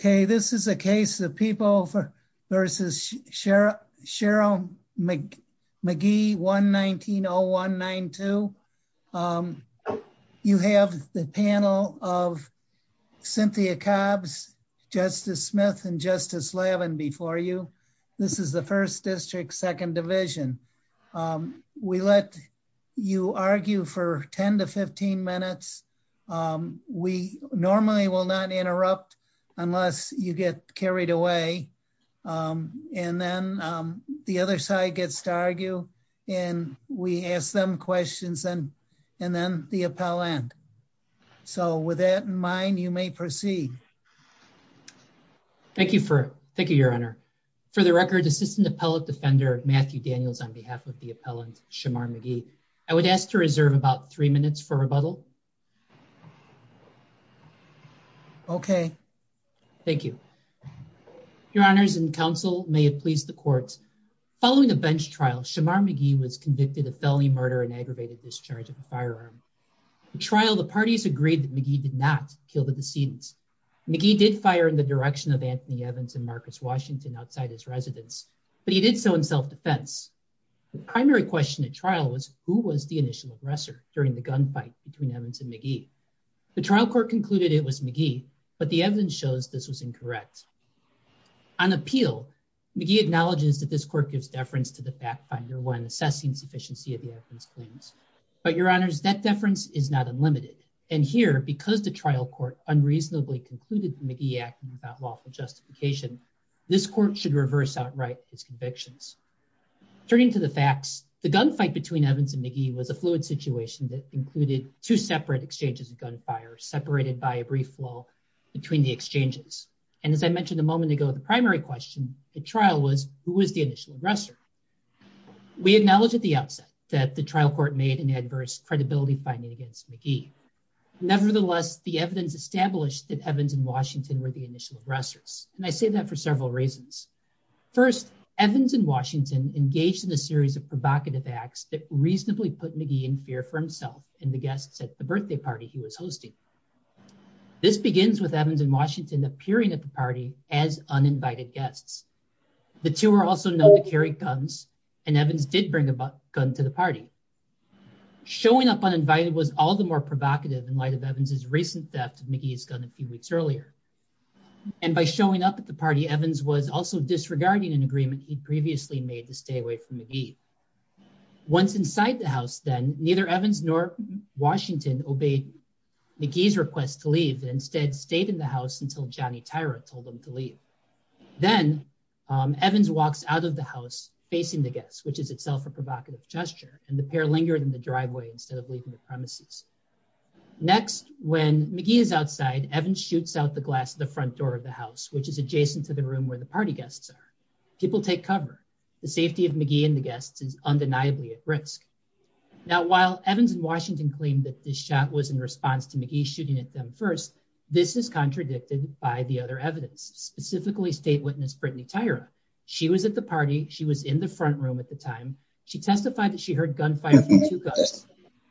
Okay, this is a case of People v. Cheryl McGee, 1-19-0192. You have the panel of Cynthia Cobbs, Justice Smith, and Justice Levin before you. This is the 1st District, 2nd Division. We let you argue for 10-15 minutes. We normally will not interrupt unless you get carried away. And then the other side gets to argue, and we ask them questions, and then the appellant. So with that in mind, you may proceed. Thank you. Thank you, Your Honor. For the record, Assistant Appellate Defender Matthew Daniels on behalf of the appellant Shemar McGee, I would ask to reserve about 3 minutes for rebuttal. Okay. Thank you. Your Honors and Counsel, may it please the Court. Following a bench trial, Shemar McGee was convicted of felony murder and aggravated discharge of a firearm. In trial, the parties agreed that McGee did not kill the decedent. McGee did fire in the direction of Anthony Evans and Marcus Washington outside his residence, but he did so in self-defense. The primary question at trial was, who was the initial aggressor during the gunfight between Evans and McGee? The trial court concluded it was McGee, but the evidence shows this was incorrect. On appeal, McGee acknowledges that this court gives deference to the fact finder when assessing sufficiency of the evidence claims. But Your Honors, that deference is not unlimited. And here, because the trial court unreasonably concluded McGee acting without lawful justification, this court should reverse outright its convictions. Turning to the facts, the gunfight between Evans and McGee was a fluid situation that included two separate exchanges of gunfire, separated by a brief flaw between the exchanges. And as I mentioned a moment ago, the primary question at trial was, who was the initial aggressor? We acknowledged at the outset that the trial court made an adverse credibility finding against McGee. Nevertheless, the evidence established that Evans and Washington were the initial aggressors. And I say that for several reasons. First, Evans and Washington engaged in a series of provocative acts that reasonably put McGee in fear for himself and the guests at the birthday party he was hosting. This begins with Evans and Washington appearing at the party as uninvited guests. The two were also known to carry guns, and Evans did bring a gun to the party. Showing up uninvited was all the more provocative in light of Evans' recent theft of McGee's gun a few weeks earlier. And by showing up at the party, Evans was also disregarding an agreement he'd previously made to stay away from McGee. Once inside the house, then, neither Evans nor Washington obeyed McGee's request to leave and instead stayed in the house until Johnny Tyra told them to leave. Then Evans walks out of the house facing the guests, which is itself a provocative gesture, and the pair lingered in the driveway instead of leaving the premises. Next, when McGee is outside, Evans shoots out the glass at the front door of the house, which is adjacent to the room where the party guests are. People take cover. The safety of McGee and the guests is undeniably at risk. Now while Evans and Washington claimed that this shot was in response to McGee shooting at them first, this is contradicted by the other evidence, specifically state witness Brittany Tyra. She was at the party. She was in the front room at the time. She testified that she heard gunfire from two guns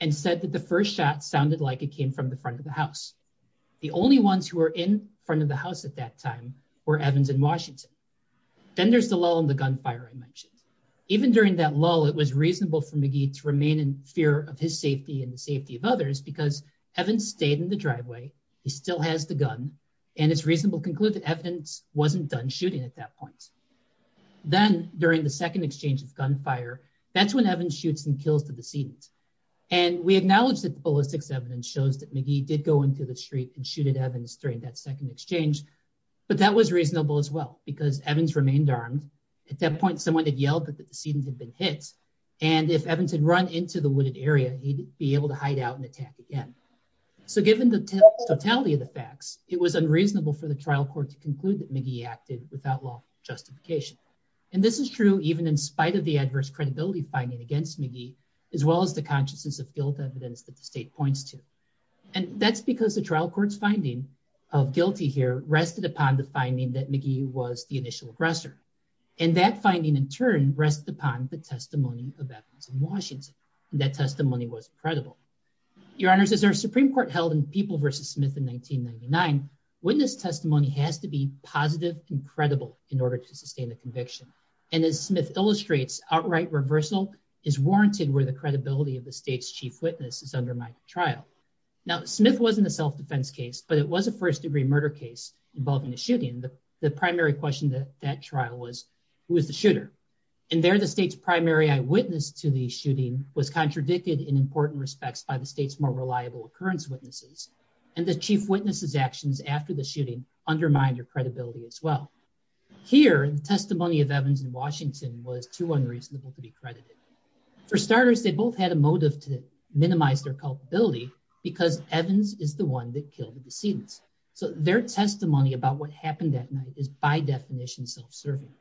and said that the first shot sounded like it came from the front of the house. The only ones who were in front of the house at that time were Evans and Washington. Then there's the lull in the gunfire I mentioned. Even during that lull, it was reasonable for McGee to remain in fear of his safety and the safety of others because Evans stayed in the driveway, he still has the gun, and it's reasonable to conclude that Evans wasn't done shooting at that point. Then during the second exchange of gunfire, that's when Evans shoots and kills the decedent. And we acknowledge that the ballistics evidence shows that McGee did go into the street and shooted Evans during that second exchange, but that was reasonable as well because Evans remained armed. At that point, someone had yelled that the decedent had been hit. And if Evans had run into the wooded area, he'd be able to hide out and attack again. So given the totality of the facts, it was unreasonable for the trial court to conclude that McGee acted without law justification. And this is true even in spite of the adverse credibility finding against McGee, as well as the consciousness of guilt evidence that the state points to. And that's because the trial court's finding of guilty here rested upon the finding that McGee was the initial aggressor. And that finding in turn rested upon the testimony of Evans and Washington. That testimony was credible. Your Honor, as our Supreme Court held in People v. Smith in 1999, witness testimony has to be positive and credible in order to sustain the conviction. And as Smith illustrates, outright reversal is warranted where the credibility of the state's chief witness is undermined in trial. Now Smith wasn't a self-defense case, but it was a first degree murder case involving a shooting. The primary question that that trial was, who was the shooter? And there the state's primary eyewitness to the shooting was contradicted in important respects by the state's more reliable occurrence witnesses. And the chief witness's actions after the shooting undermined your credibility as well. Here the testimony of Evans and Washington was too unreasonable to be credited. For starters, they both had a motive to minimize their culpability because Evans is the one that killed the decedents. So their testimony about what happened that night is by definition self-serving.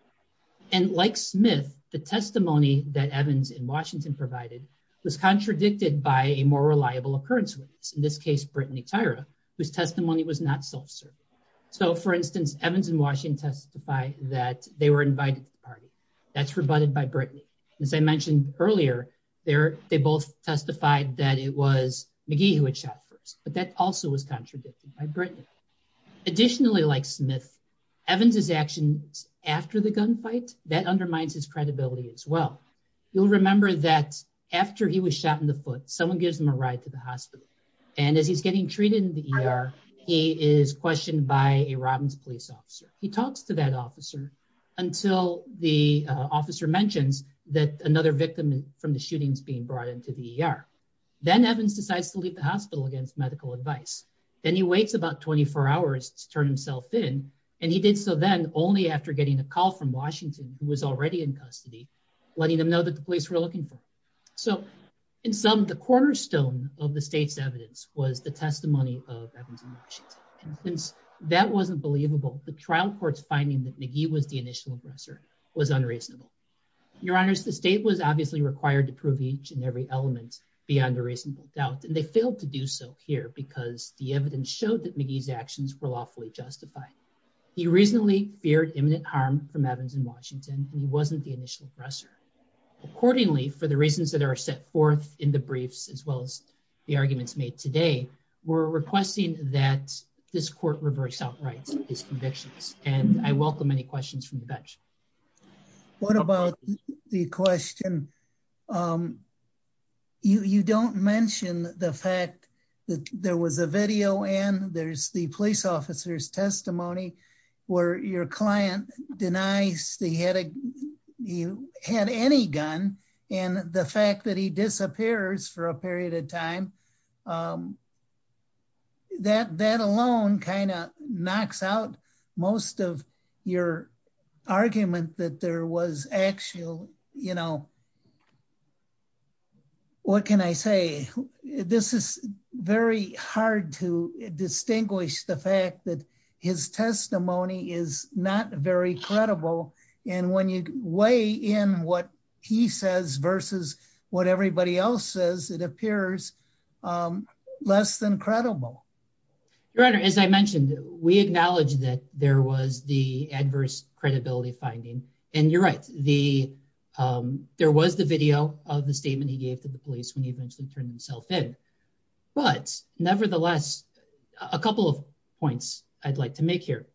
And like Smith, the testimony that Evans and Washington provided was contradicted by a more reliable occurrence witness. In this case, Brittany Tyra, whose testimony was not self-serving. So for instance, Evans and Washington testify that they were invited to the party. That's rebutted by Brittany. And as I mentioned earlier, they both testified that it was McGee who had shot first, but that also was contradicted by Brittany. Additionally, like Smith, Evans' actions after the gunfight, that undermines his credibility as well. You'll remember that after he was shot in the foot, someone gives him a ride to the hospital. And as he's getting treated in the ER, he is questioned by a Robbins police officer. He talks to that officer until the officer mentions that another victim from the shooting is being brought into the ER. Then Evans decides to leave the hospital against medical advice. Then he waits about 24 hours to turn himself in. And he did so then only after getting a call from Washington, who was already in custody, letting them know that the police were looking for him. So in sum, the cornerstone of the state's evidence was the testimony of Evans and Washington. Since that wasn't believable, the trial court's finding that McGee was the initial aggressor was unreasonable. Your honors, the state was obviously required to prove each and every element beyond a reasonable doubt. And they failed to do so here because the evidence showed that McGee's actions were lawfully justified. He reasonably feared imminent harm from Evans and Washington, and he wasn't the initial aggressor. Accordingly, for the reasons that are set forth in the briefs, as well as the arguments made today, we're requesting that this court reverse outright his convictions, and I welcome any questions from the bench. What about the question? You don't mention the fact that there was a video in, there's the police officer's testimony where your client denies that he had any gun, and the fact that he disappears for a period of time, that alone kind of knocks out most of your argument that there was actual evidence. Well, what can I say? This is very hard to distinguish the fact that his testimony is not very credible. And when you weigh in what he says versus what everybody else says, it appears less than credible. Your honor, as I mentioned, we acknowledge that there was the adverse credibility finding and you're right. There was the video of the statement he gave to the police when he eventually turned himself in. But nevertheless, a couple of points I'd like to make here.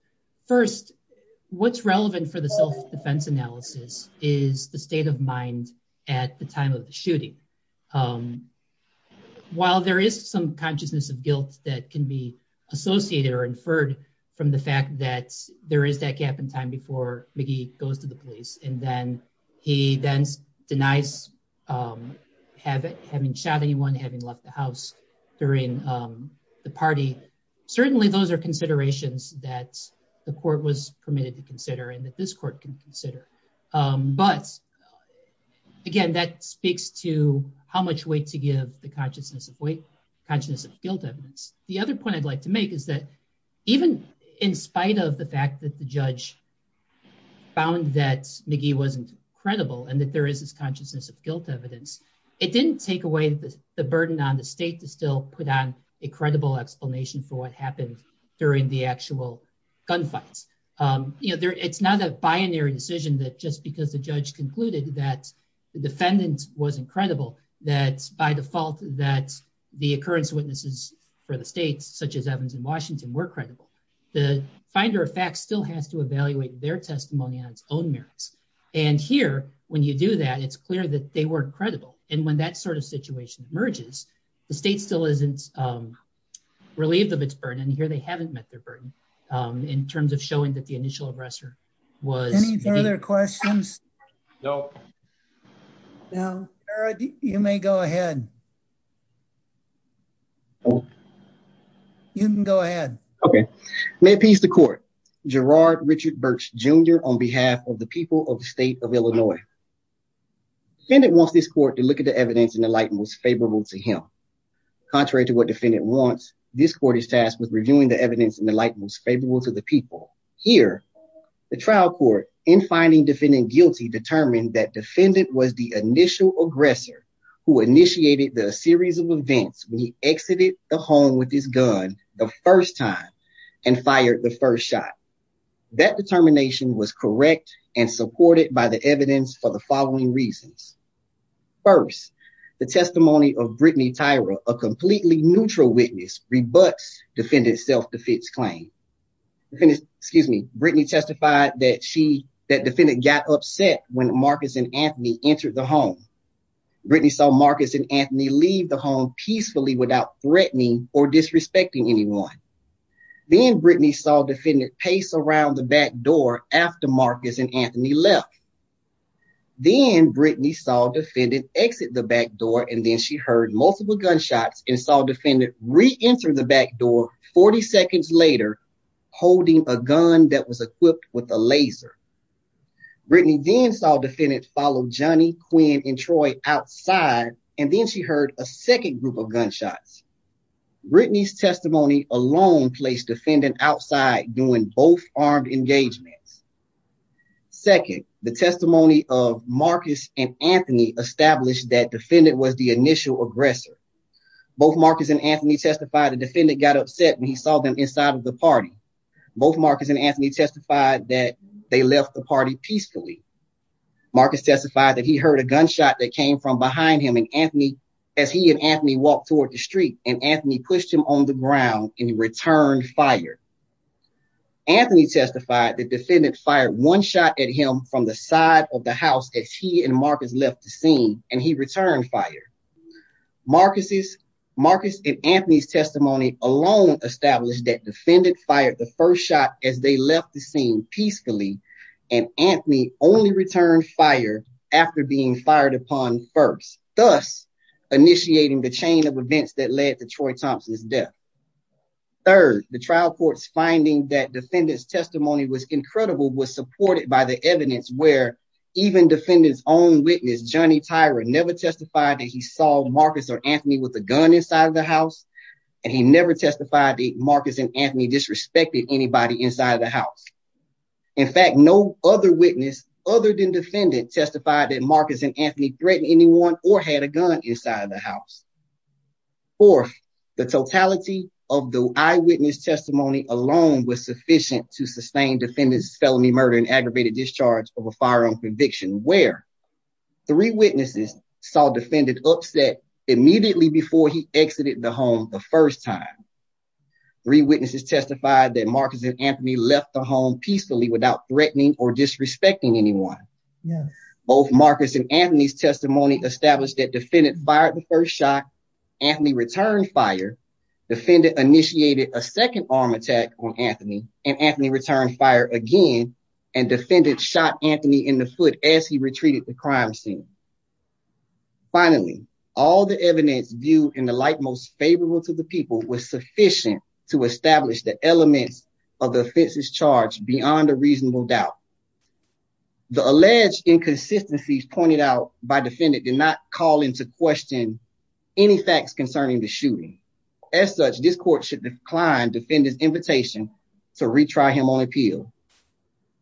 First, what's relevant for the self-defense analysis is the state of mind at the time of the shooting. While there is some consciousness of guilt that can be associated or inferred from the he then denies having shot anyone, having left the house during the party. Certainly those are considerations that the court was permitted to consider and that this court can consider. But again, that speaks to how much weight to give the consciousness of guilt evidence. The other point I'd like to make is that even in spite of the fact that the judge found that McGee wasn't credible and that there is this consciousness of guilt evidence, it didn't take away the burden on the state to still put on a credible explanation for what happened during the actual gunfights. It's not a binary decision that just because the judge concluded that the defendant wasn't credible, that by default that the occurrence witnesses for the states such as Evans and Washington were credible. The finder of fact still has to evaluate their testimony on its own merits. And here, when you do that, it's clear that they weren't credible. And when that sort of situation emerges, the state still isn't relieved of its burden. And here they haven't met their burden in terms of showing that the initial aggressor was any further questions. No. No. All right. You may go ahead. You can go ahead. Okay. May peace the court. Gerard Richard Burks Jr. on behalf of the people of the state of Illinois. Defendant wants this court to look at the evidence in the light most favorable to him. Contrary to what defendant wants, this court is tasked with reviewing the evidence in the light most favorable to the people. Here, the trial court in finding defendant guilty determined that defendant was the initial aggressor who initiated the series of events when he exited the home with his gun the first time and fired the first shot. That determination was correct and supported by the evidence for the following reasons. First, the testimony of Brittany Tyra, a completely neutral witness, rebuts defendant's self-defense claim. Excuse me, Brittany testified that she, that defendant got upset when Marcus and Anthony entered the home. Brittany saw Marcus and Anthony leave the home peacefully without threatening or disrespecting anyone. Then, Brittany saw defendant pace around the back door after Marcus and Anthony left. Then, Brittany saw defendant exit the back door and then she heard multiple gunshots and saw defendant re-enter the back door 40 seconds later holding a gun that was equipped with a laser. Brittany then saw defendant follow Johnny, Quinn, and Troy outside and then she heard a second group of gunshots. Brittany's testimony alone placed defendant outside doing both armed engagements. Second, the testimony of Marcus and Anthony established that defendant was the initial aggressor. Both Marcus and Anthony testified the defendant got upset when he saw them inside of the party. Both Marcus and Anthony testified that they left the party peacefully. Marcus testified that he heard a gunshot that came from behind him and Anthony, as he and Anthony pushed him on the ground and he returned fire. Anthony testified that defendant fired one shot at him from the side of the house as he and Marcus left the scene and he returned fire. Marcus and Anthony's testimony alone established that defendant fired the first shot as they left the scene peacefully and Anthony only returned fire after being fired upon first. Thus, initiating the chain of events that led to Troy Thompson's death. Third, the trial court's finding that defendant's testimony was incredible was supported by the evidence where even defendant's own witness, Johnny Tyra, never testified that he saw Marcus or Anthony with a gun inside of the house and he never testified that Marcus and Anthony disrespected anybody inside of the house. In fact, no other witness other than defendant testified that Marcus and Anthony threatened anyone or had a gun inside of the house. Fourth, the totality of the eyewitness testimony alone was sufficient to sustain defendant's felony murder and aggravated discharge of a firearm conviction where three witnesses saw defendant upset immediately before he exited the home the first time. Three witnesses testified that Marcus and Anthony left the home peacefully without threatening or disrespecting anyone. Both Marcus and Anthony's testimony established that defendant fired the first shot, Anthony returned fire, defendant initiated a second arm attack on Anthony, and Anthony returned fire again, and defendant shot Anthony in the foot as he retreated the crime scene. Finally, all the evidence viewed in the light most favorable to the people was sufficient to establish the elements of the offense's charge beyond a reasonable doubt. The alleged inconsistencies pointed out by defendant did not call into question any facts concerning the shooting. As such, this court should decline defendant's invitation to retry him on appeal.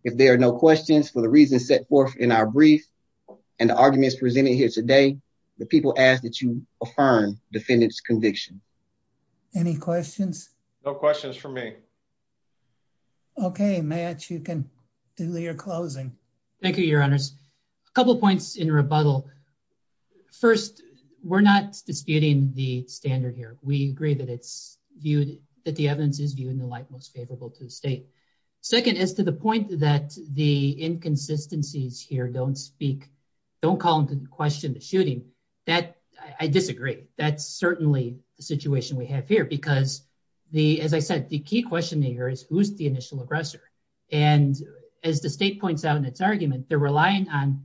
If there are no questions for the reasons set forth in our brief and the arguments presented here today, the people ask that you affirm defendant's conviction. Any questions? No questions for me. Okay, Matt, you can do your closing. Thank you, your honors. A couple points in rebuttal. First, we're not disputing the standard here. We agree that it's viewed, that the evidence is viewed in the light most favorable to the state. Second, as to the point that the inconsistencies here don't speak, don't call into question the shooting, that, I disagree. That's certainly the situation we have here because the, as I said, the key question here is who's the initial aggressor? And as the state points out in its argument, they're relying on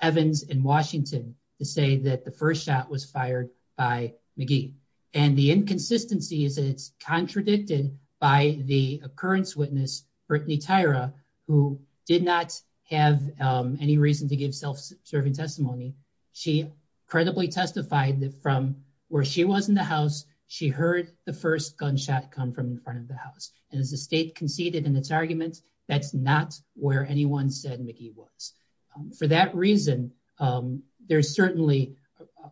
Evans and Washington to say that the first shot was fired by McGee. And the inconsistency is that it's contradicted by the occurrence witness, Brittany Tyra, who did not have any reason to give self-serving testimony. She credibly testified that from where she was in the house, she heard the first gunshot come from the front of the house. And as the state conceded in its argument, that's not where anyone said McGee was. For that reason, there's certainly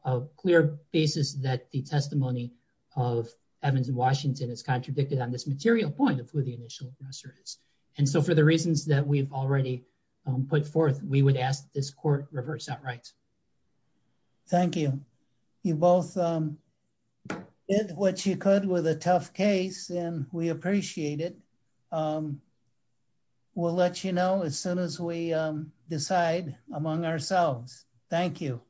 a clear basis that the testimony of Evans and Washington is contradicted on this material point of who the initial aggressor is. And so for the reasons that we've already put forth, we would ask that this court reverse that right. Thank you. You both did what you could with a tough case, and we appreciate it. We'll let you know as soon as we decide among ourselves. Thank you.